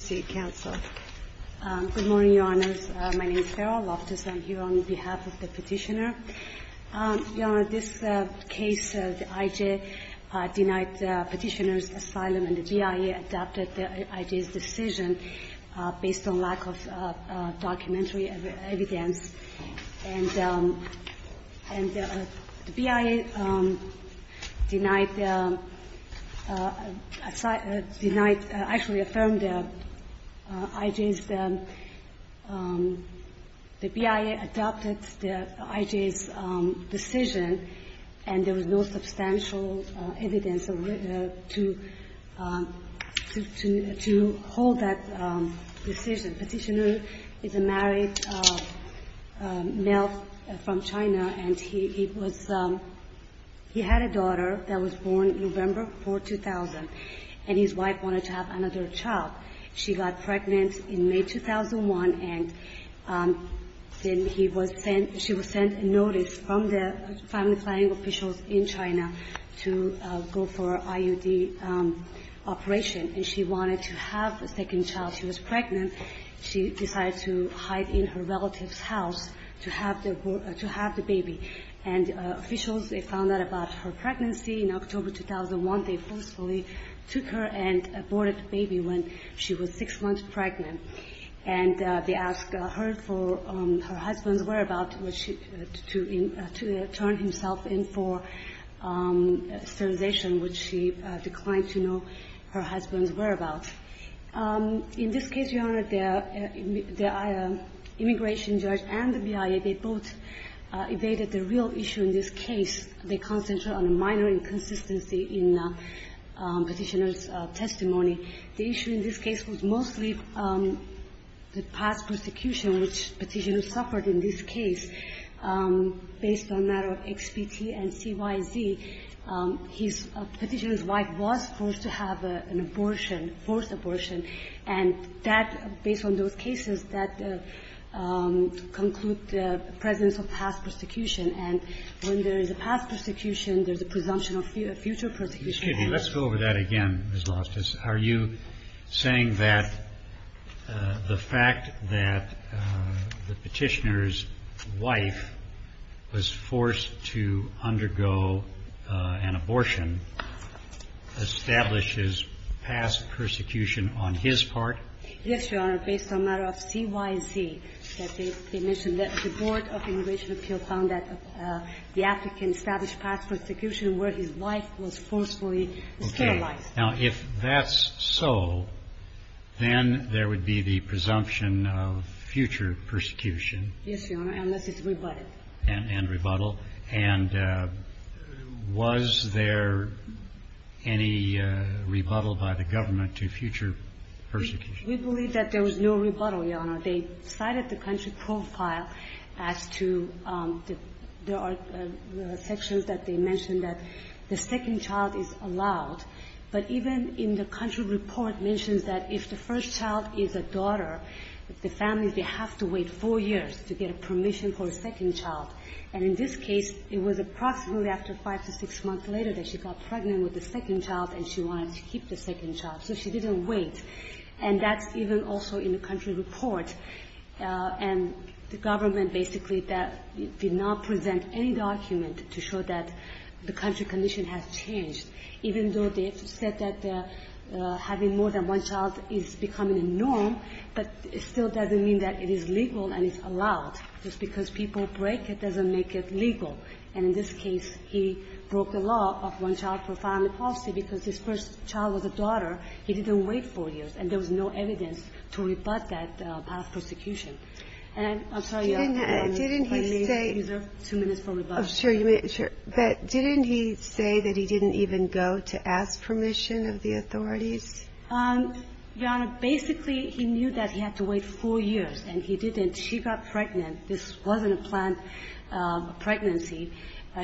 Good morning, Your Honors. My name is Farrah Loftus. I'm here on behalf of the petitioner. Your Honor, this case, the IJ denied the petitioner's asylum, and the BIA adapted the IJ's decision based on lack of documentary evidence. And the BIA denied the – denied – actually affirmed the IJ's – the BIA adopted the IJ's decision, and there was no substantial evidence to hold that decision. The petitioner is a married male from China, and he was – he had a daughter that was born November 4, 2000, and his wife wanted to have another child. She got pregnant in May 2001, and then he was sent – she was sent a notice from the family planning officials in China to go for IUD operation, and she wanted to have a second child. She was pregnant. She decided to hide in her relative's house to have the – to have the baby. And officials, they found out about her pregnancy in October 2001. They forcefully took her and aborted the baby when she was six months pregnant. And they asked her for her husband's whereabouts, which she – to turn himself in for sterilization, which she declined to know her husband's whereabouts. In this case, Your Honor, the immigration judge and the BIA, they both evaded the real issue in this case. They concentrated on a minor inconsistency in the petitioner's testimony. The issue in this case was mostly the past persecution which the petitioner suffered in this case. Based on the matter of XPT and CYZ, his – the petitioner's wife was forced to have an abortion, forced abortion. And that – based on those cases, that conclude the presence of past persecution. And when there is a past persecution, there's a presumption of future persecution. Excuse me. Let's go over that again, Ms. Lostis. Are you saying that the fact that the petitioner's wife was forced to undergo an abortion establishes past persecution on his part? Yes, Your Honor. Based on the matter of CYZ, they mentioned that the Board of Immigration Appeal found that the applicant established past persecution where his wife was forcefully sterilized. Now, if that's so, then there would be the presumption of future persecution. Yes, Your Honor, unless it's rebutted. And rebuttal. And was there any rebuttal by the government to future persecution? We believe that there was no rebuttal, Your Honor. They cited the country profile as to – there are sections that they mentioned that the second child is allowed. But even in the country report mentions that if the first child is a daughter, the families, they have to wait four years to get a permission for a second child. And in this case, it was approximately after five to six months later that she got pregnant with the second child and she wanted to keep the second child. So she didn't wait. And that's even also in the country report. And the government basically did not present any document to show that the country condition has changed. Even though they said that having more than one child is becoming a norm, but it still doesn't mean that it is legal and it's allowed. Just because people break it doesn't make it legal. And in this case, he broke the law of one-child-per-family policy because his first child was a daughter. He didn't wait four years, and there was no evidence to rebut that past prosecution. And I'm sorry, Your Honor, if I may reserve two minutes for rebuttal. Ginsburg-McCarran, Jr. Sure. But didn't he say that he didn't even go to ask permission of the authorities? Your Honor, basically, he knew that he had to wait four years, and he didn't. She got pregnant. This wasn't a planned pregnancy.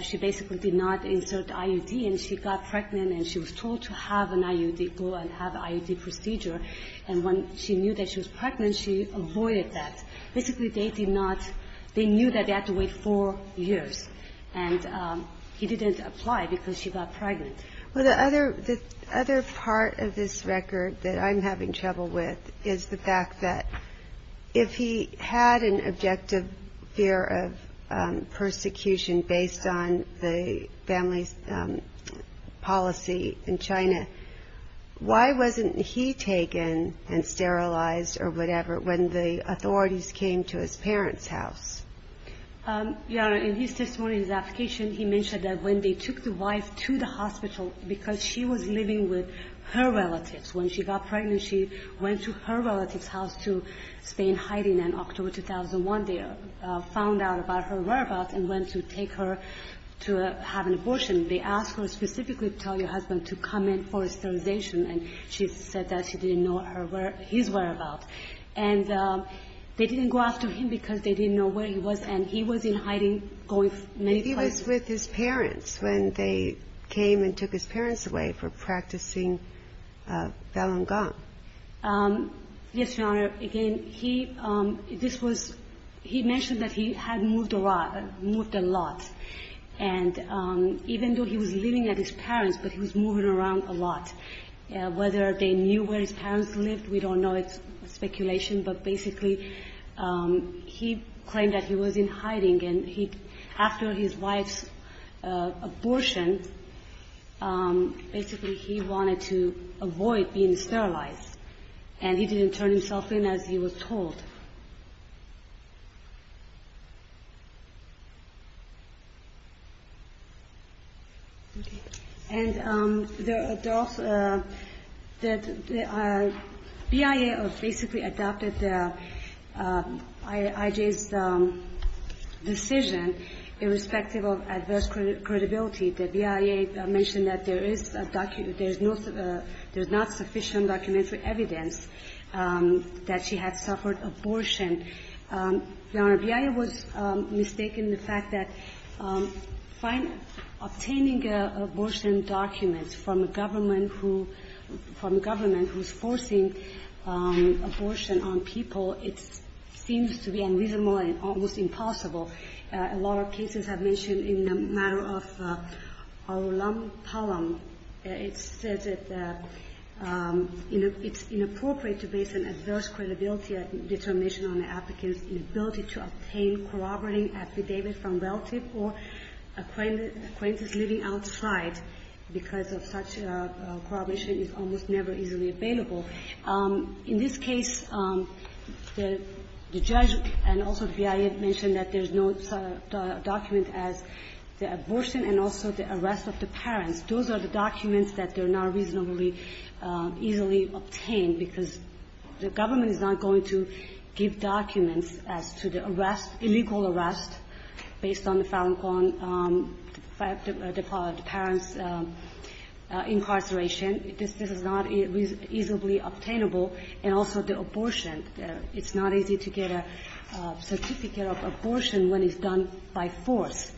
She basically did not insert IUD, and she got pregnant, and she was told to have an IUD, go and have an IUD procedure. And when she knew that she was pregnant, she avoided that. Basically, they did not they knew that they had to wait four years. And he didn't apply because she got pregnant. Ginsburg-McCarran, Jr. Well, the other part of this record that I'm having trouble with is the fact that if he had an objective fear of persecution based on the family's policy in China, why wasn't he taken and sterilized or whatever when the authorities came to his parents' house? Your Honor, in his testimony, his application, he mentioned that when they took the wife to the hospital because she was living with her relatives. When she got pregnant, she went to her relatives' house to stay in hiding. And October 2001, they found out about her whereabouts and went to take her to have an abortion. They asked her specifically to tell your husband to come in for a sterilization, and she said that she didn't know where his whereabouts. And they didn't go after him because they didn't know where he was, and he was in hiding going many places. He was with his parents when they came and took his parents away for practicing Balangong. Yes, Your Honor. Again, he – this was – he mentioned that he had moved a lot. And even though he was living at his parents', but he was moving around a lot. Whether they knew where his parents lived, we don't know. It's speculation. But basically, he claimed that he was in hiding, and he – after his wife's abortion, basically, he wanted to avoid being sterilized. And he didn't turn himself in as he was told. Okay. And there are – there are – the BIA have basically adopted the – adopted IJ's decision, irrespective of adverse credibility. The BIA mentioned that there is a – there's no – there's not sufficient documentary evidence that she had suffered abortion. Your Honor, BIA was mistaken in the fact that obtaining abortion documents from a government who – from a government who's forcing abortion on people, it's – it seems to be unreasonable and almost impossible. A lot of cases have mentioned in a matter of our alumni column, it says that it's inappropriate to base an adverse credibility determination on the applicant's inability to obtain corroborating affidavit from relative or acquaintances living outside because of such corroboration is almost never easily available. In this case, the judge and also the BIA have mentioned that there's no document as the abortion and also the arrest of the parents. Those are the documents that they're not reasonably – easily obtained because the government is not going to give documents as to the arrest – illegal arrest based on the Falun Gong – the parents' incarceration. This is not easily obtainable. And also the abortion. It's not easy to get a certificate of abortion when it's done by force.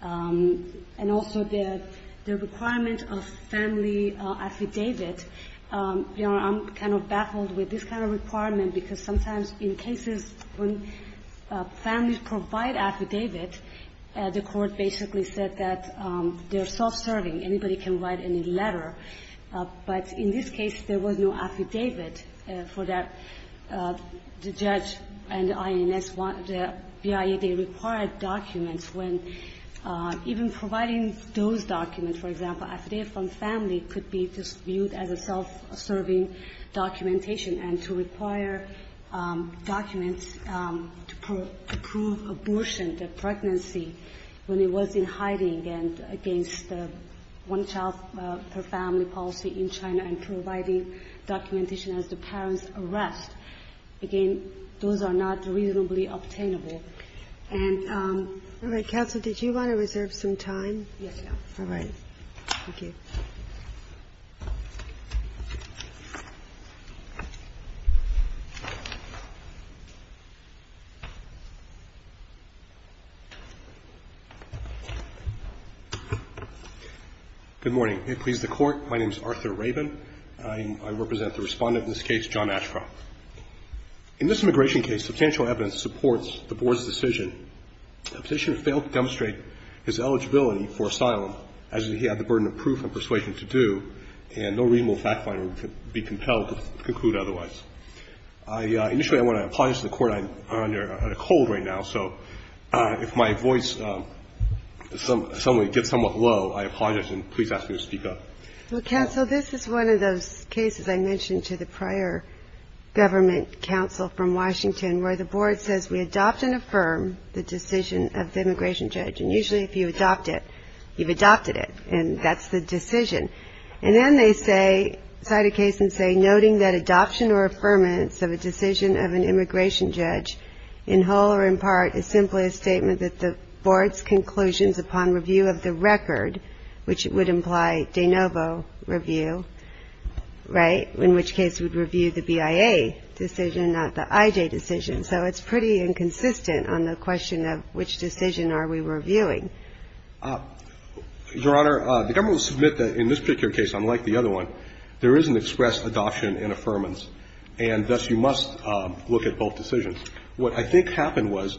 And also the requirement of family affidavit. Your Honor, I'm kind of baffled with this kind of requirement because sometimes in cases when families provide affidavit, the court basically said that they're self-serving. Anybody can write any letter. But in this case, there was no affidavit for that. The judge and INS – the BIA, they required documents when even providing those documents, for example, affidavit from family could be just viewed as a self-serving documentation and to require documents to prove abortion, the pregnancy, when it was in hiding and against the one-child-per-family policy in China and providing documentation as the parents' arrest. Again, those are not reasonably obtainable. And – All right. Counsel, did you want to reserve some time? Yes, Your Honor. All right. Thank you. Good morning. May it please the Court, my name is Arthur Rabin. I represent the respondent in this case, John Ashcroft. In this immigration case, substantial evidence supports the Board's decision. The petitioner failed to demonstrate his eligibility for asylum as he had the burden of proof and persuasion to do, and no reasonable fact-finder would be compelled to conclude otherwise. Initially, I want to apologize to the Court. I'm under a cold right now, so if my voice suddenly gets somewhat low, I apologize and please ask me to speak up. Well, Counsel, this is one of those cases I mentioned to the prior government counsel from Washington where the Board says we adopt and affirm the decision of the immigration judge, and usually if you adopt it, you've adopted it, and that's the decision. And then they say – cite a case and say, noting that adoption or affirmance of a decision of an immigration judge in whole or in part is simply a statement that the Board's conclusions upon review of the record, which would imply de novo review, right, in which case we'd review the BIA decision, not the IJ decision. So it's pretty inconsistent on the question of which decision are we reviewing. Your Honor, the government will submit that in this particular case, unlike the other one, there is an express adoption and affirmance, and thus you must look at both decisions. What I think happened was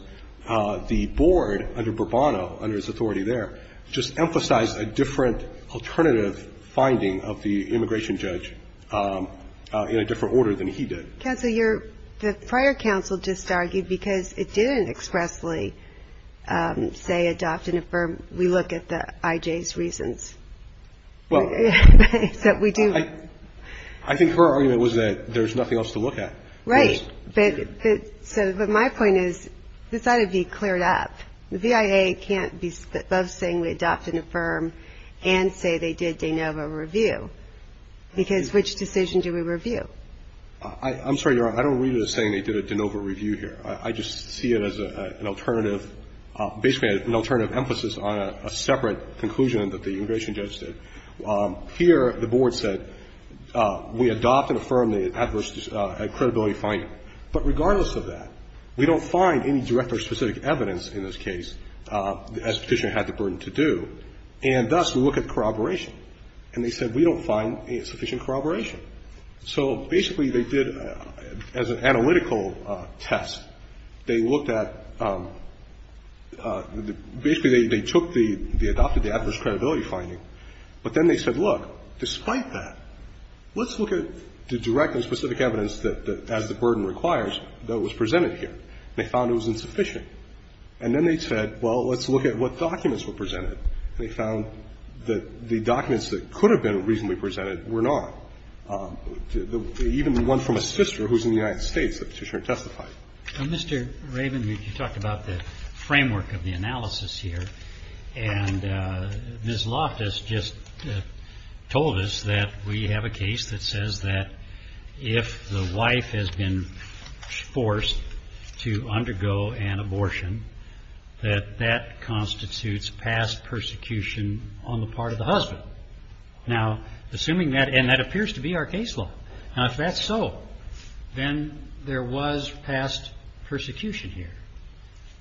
the Board under Bourbonneau, under his authority there, just emphasized a different alternative finding of the immigration judge in a different order than he did. Counsel, your – the prior counsel just argued because it didn't expressly say adopt and affirm, we look at the IJ's reasons. Well, I think her argument was that there's nothing else to look at. Right, but my point is this ought to be cleared up. The BIA can't be above saying we adopt and affirm and say they did de novo review, because which decision do we review? I'm sorry, Your Honor. I don't read it as saying they did a de novo review here. I just see it as an alternative, basically an alternative emphasis on a separate conclusion that the immigration judge did. Here the Board said we adopt and affirm the adverse credibility finding. But regardless of that, we don't find any direct or specific evidence in this case, as Petitioner had the burden to do, and thus we look at corroboration. And they said we don't find sufficient corroboration. So basically they did, as an analytical test, they looked at – basically, they took the – they adopted the adverse credibility finding. But then they said, look, despite that, let's look at the direct and specific evidence that, as the burden requires, that was presented here. They found it was insufficient. And then they said, well, let's look at what documents were presented. And they found that the documents that could have been reasonably presented were not. Even the one from a sister who's in the United States that Petitioner testified. Mr. Raven, you talked about the framework of the analysis here. And Ms. Loftus just told us that we have a case that says that if the wife has been forced to undergo an abortion, that that constitutes past persecution on the part of the husband. Now, assuming that – and that appears to be our case law. Now, if that's so, then there was past persecution here.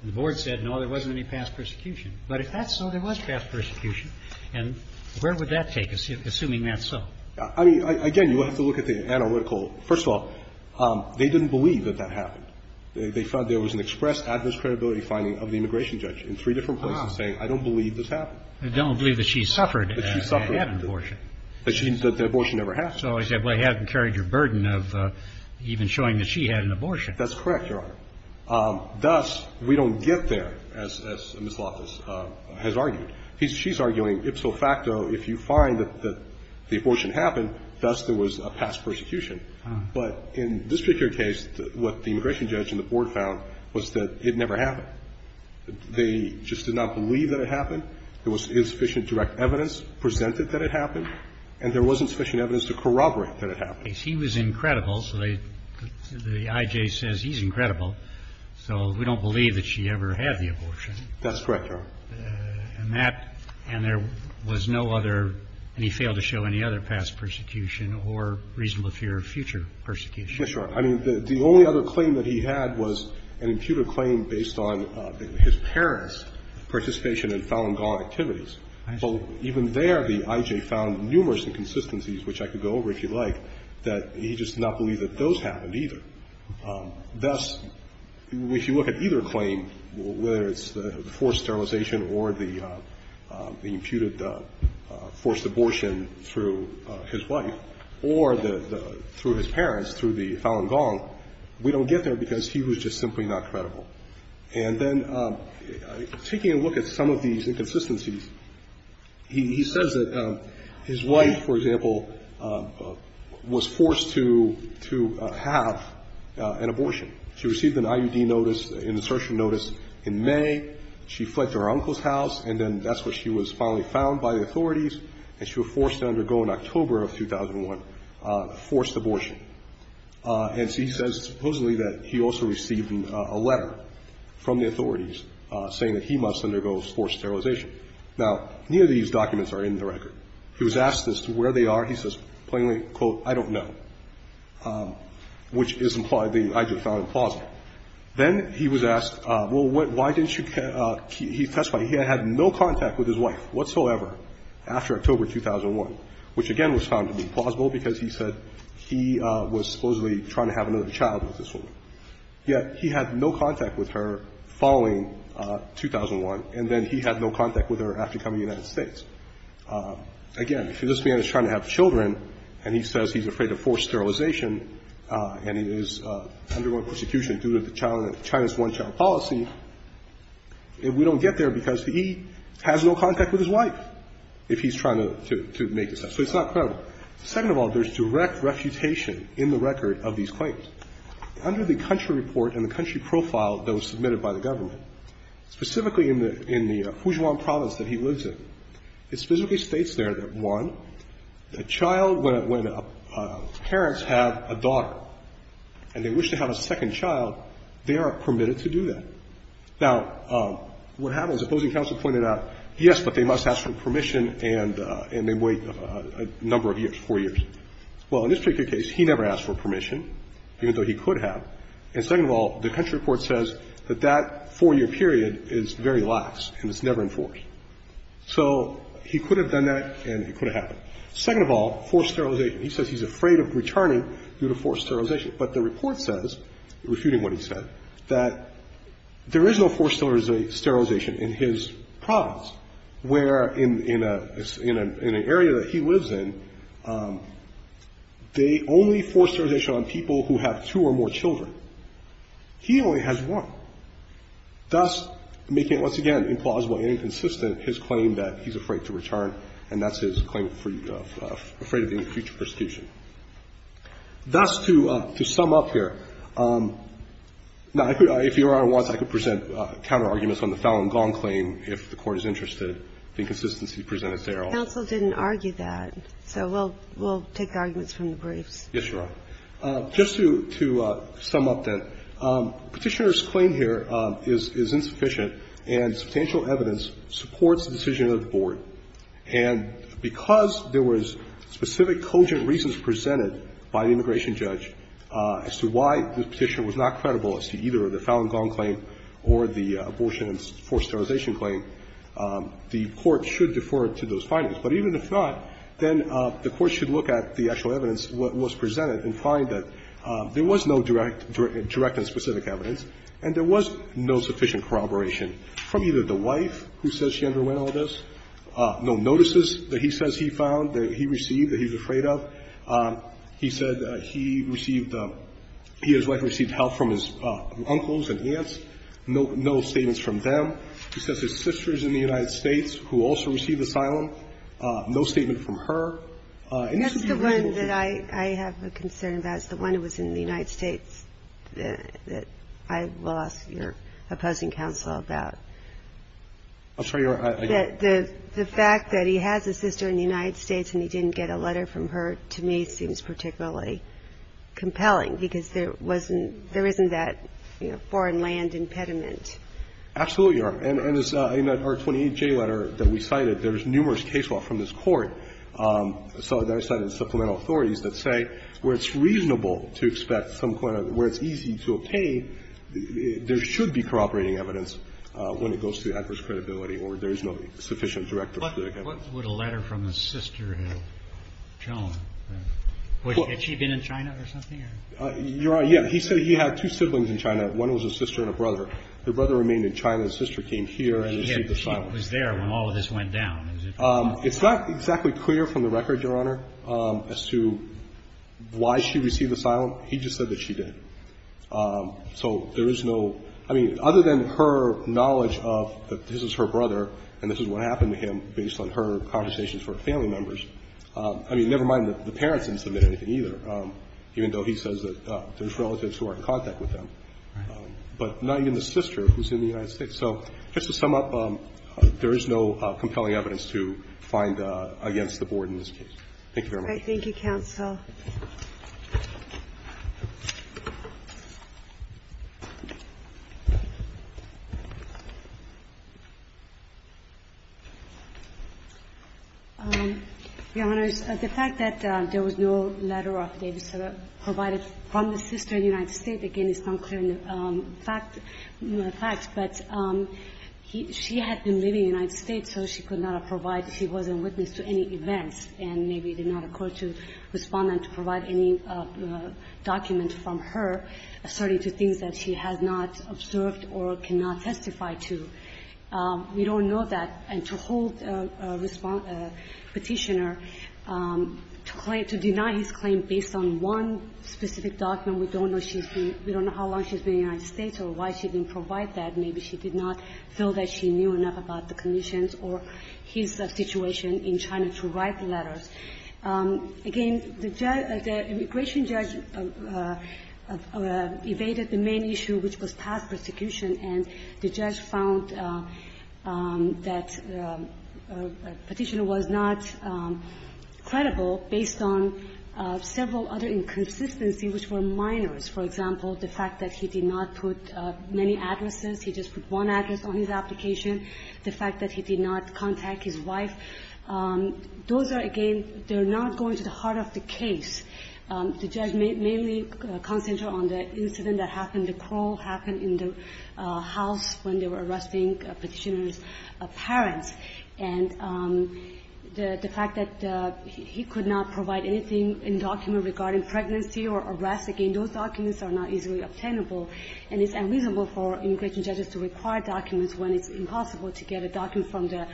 And the Board said, no, there wasn't any past persecution. But if that's so, there was past persecution. And where would that take us, assuming that's so? I mean, again, you have to look at the analytical – first of all, they didn't believe that that happened. They found there was an express adverse credibility finding of the immigration judge in three different places saying, I don't believe this happened. I don't believe that she suffered and had an abortion. That she – that the abortion never happened. So they said, well, you haven't carried your burden of even showing that she had an abortion. That's correct, Your Honor. Thus, we don't get there, as Ms. Loftus has argued. She's arguing ipso facto, if you find that the abortion happened, thus there was a past persecution. But in this particular case, what the immigration judge and the Board found was that it never happened. They just did not believe that it happened. There was insufficient direct evidence presented that it happened. And there wasn't sufficient evidence to corroborate that it happened. He was incredible. So they – the I.J. says he's incredible. So we don't believe that she ever had the abortion. That's correct, Your Honor. And that – and there was no other – and he failed to show any other past persecution or reasonable fear of future persecution. Yes, Your Honor. I mean, the only other claim that he had was an imputed claim based on his parents' participation in Falun Gong activities. I see. So even there, the I.J. found numerous inconsistencies, which I could go over if you like, that he just did not believe that those happened either. Thus, if you look at either claim, whether it's the forced sterilization or the imputed forced abortion through his wife or the – through his parents, through the Falun Gong, we don't get there because he was just simply not credible. And then taking a look at some of these inconsistencies, he says that his wife, for example, was forced to – to have an abortion. She received an IUD notice, an insertion notice in May. She fled to her uncle's house, and then that's where she was finally found by the authorities, and she was forced to undergo in October of 2001 a forced abortion. And so he says, supposedly, that he also received a letter from the authorities saying that he must undergo forced sterilization. Now, neither of these documents are in the record. He was asked as to where they are. He says plainly, quote, I don't know, which is implied the I.J. found implausible. Then he was asked, well, why didn't you – he testified he had had no contact with his wife whatsoever after October 2001, which again was found to be implausible because he said he was supposedly trying to have another child with this woman. Yet he had no contact with her following 2001, and then he had no contact with her after coming to the United States. Again, if this man is trying to have children and he says he's afraid of forced sterilization and he is undergoing persecution due to the child – China's one-child policy, we don't get there because he has no contact with his wife if he's trying to make this up. So it's not credible. Second of all, there's direct refutation in the record of these claims. Under the country report and the country profile that was submitted by the government, specifically in the – in the Fujian province that he lives in, it specifically states there that, one, a child, when parents have a daughter and they wish to have a second child, they are permitted to do that. Now, what happens, opposing counsel pointed out, yes, but they must ask for permission and they wait a number of years, four years. Well, in this particular case, he never asked for permission, even though he could have. And second of all, the country report says that that four-year period is very lax and it's never enforced. So he could have done that and it could have happened. Second of all, forced sterilization. He says he's afraid of returning due to forced sterilization. But the report says, refuting what he said, that there is no forced sterilization in his province, where in a – in an area that he lives in, they only force sterilization on people who have two or more children. He only has one, thus making it, once again, implausible and inconsistent, his claim that he's afraid to return, and that's his claim for – afraid of any future persecution. Thus, to sum up here, now, if Your Honor wants, I could present counterarguments on the Fallon-Gong claim if the Court is interested. The inconsistency presented there also. Counsel didn't argue that. So we'll take arguments from the briefs. Yes, Your Honor. Just to sum up then, Petitioner's claim here is insufficient and substantial evidence supports the decision of the Board. And because there was specific cogent reasons presented by the immigration judge as to why the Petitioner was not credible as to either the Fallon-Gong claim or the abortion and forced sterilization claim, the Court should defer to those findings. But even if not, then the Court should look at the actual evidence that was presented and find that there was no direct – direct and specific evidence and there was no sufficient corroboration from either the wife, who says she underwent all this, no notices that he says he found, that he received, that he was afraid of. He said he received – he and his wife received help from his uncles and aunts. No – no statements from them. He says his sister is in the United States who also received asylum. No statement from her. And this would be reasonable to do. That's the one that I have a concern about. The one that was in the United States that I will ask your opposing counsel about. I'm sorry, Your Honor, I don't – The fact that he has a sister in the United States and he didn't get a letter from her, to me, seems particularly compelling because there wasn't – there isn't that foreign land impediment. Absolutely, Your Honor. And in the R28J letter that we cited, there's numerous case law from this Court. So there's some supplemental authorities that say where it's reasonable to expect some kind of – where it's easy to obtain, there should be corroborating evidence when it goes to the adverse credibility or there is no sufficient directive to the evidence. What would a letter from a sister have shown? Had she been in China or something? Your Honor, yes. He said he had two siblings in China. One was a sister and a brother. The brother remained in China. The sister came here and received asylum. He was there when all of this went down. It's not exactly clear from the record, Your Honor, as to why she received asylum. He just said that she did. So there is no – I mean, other than her knowledge of that this is her brother and this is what happened to him based on her conversations with her family members – I mean, never mind the parents didn't submit anything either, even though he says that there's relatives who are in contact with them. Right. But not even the sister who's in the United States. So just to sum up, there is no compelling evidence to find against the Board in this case. Thank you very much. Thank you, counsel. Your Honors, the fact that there was no letter of Davis that provided from the sister in the United States, again, it's not clear in the facts, but she had been living in the United States, so she could not have provided – she wasn't witness to any events, and maybe did not occur to Respondent to provide any document from her asserting to things that she has not observed or cannot testify to. We don't know that. And to hold Respondent – Petitioner to claim – to deny his claim based on one specific document, we don't know she's been – we don't know how long she's been in the United States or why she didn't provide that. Maybe she did not feel that she knew enough about the conditions or his situation in trying to write the letters. Again, the judge – the immigration judge evaded the main issue, which was past persecution. And the judge found that Petitioner was not credible based on several other inconsistencies which were minors. For example, the fact that he did not put many addresses, he just put one address on his application. The fact that he did not contact his wife. Those are, again, they're not going to the heart of the case. The judge mainly concentrated on the incident that happened, the crawl happened in the house when they were arresting Petitioner's parents. And the fact that he could not provide anything in document regarding pregnancy or arrest, again, those documents are not easily obtainable. And it's unreasonable for immigration judges to require documents when it's impossible to get a document from the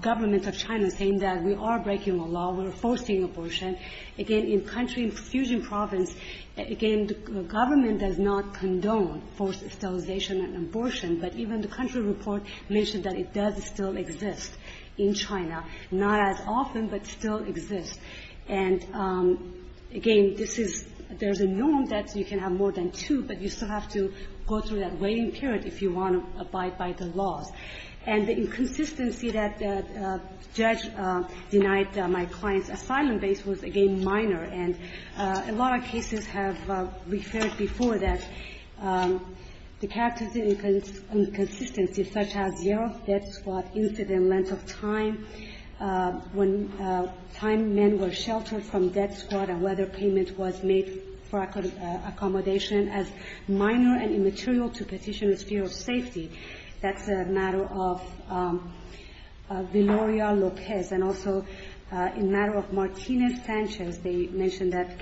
government of China saying that we are breaking the law, we're forcing abortion. Again, in country – in Fujian province, again, the government does not condone forced sterilization and abortion, but even the country report mentioned that it does still exist in China. Not as often, but still exists. And, again, this is – there's a norm that you can have more than two, but you still have to go through that waiting period if you want to abide by the laws. And the inconsistency that the judge denied my client's asylum base was, again, minor. And a lot of cases have referred before that the character of the inconsistency such as year of death, squad incident, length of time, when time men were sheltered from death squad and whether payment was made for accommodation as minor and immaterial to Petitioner's fear of safety, that's a matter of Viloria Lopez. And also a matter of Martinez-Sanchez. They mentioned that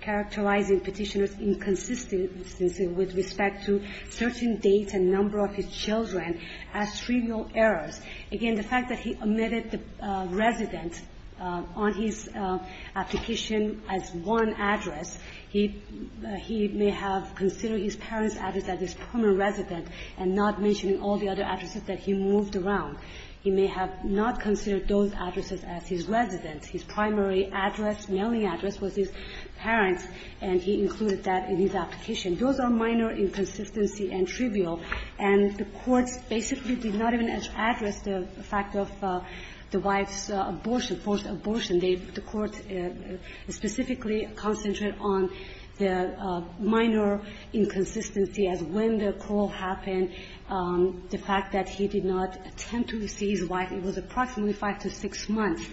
characterizing Petitioner's inconsistency with respect to certain dates and number of his children as trivial errors. Again, the fact that he omitted the resident on his application as one address, he – he may have considered his parents' address as his permanent resident and not mentioned all the other addresses that he moved around. He may have not considered those addresses as his residence. His primary address, mailing address, was his parents, and he included that in his application. Those are minor inconsistency and trivial, and the courts basically did not even address the fact of the wife's abortion, forced abortion. The court specifically concentrated on the minor inconsistency as when the call happened, the fact that he did not attempt to see his wife. It was approximately 5 to 6 months.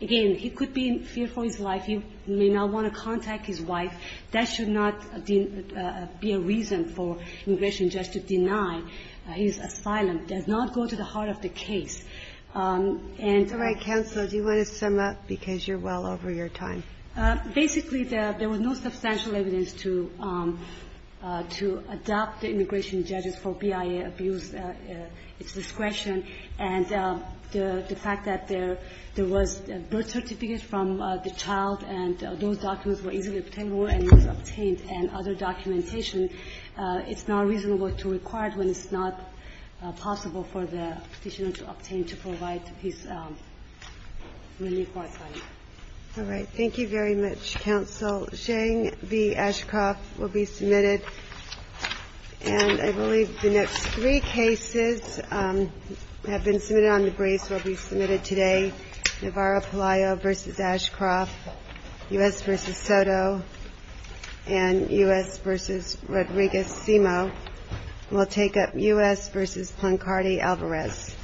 Again, he could be fearful of his wife. He may not want to contact his wife. That should not be a reason for an immigration judge to deny his asylum. It does not go to the heart of the case. And the right counsel, do you want to sum up? Because you're well over your time. Basically, there was no substantial evidence to adopt the immigration judges for BIA abuse at its discretion. And the fact that there was a birth certificate from the child and those documents were easily obtainable and was obtained and other documentation, it's not reasonable to require it when it's not possible for the Petitioner to obtain to provide his relief or asylum. All right. Thank you very much, Counsel. Zhang v. Ashcroft will be submitted. And I believe the next three cases have been submitted on the briefs will be submitted today, Navarro-Palaio v. Ashcroft, U.S. v. Soto, and U.S. v. Rodriguez-Simo. We'll take up U.S. v. Plancardi-Alvarez.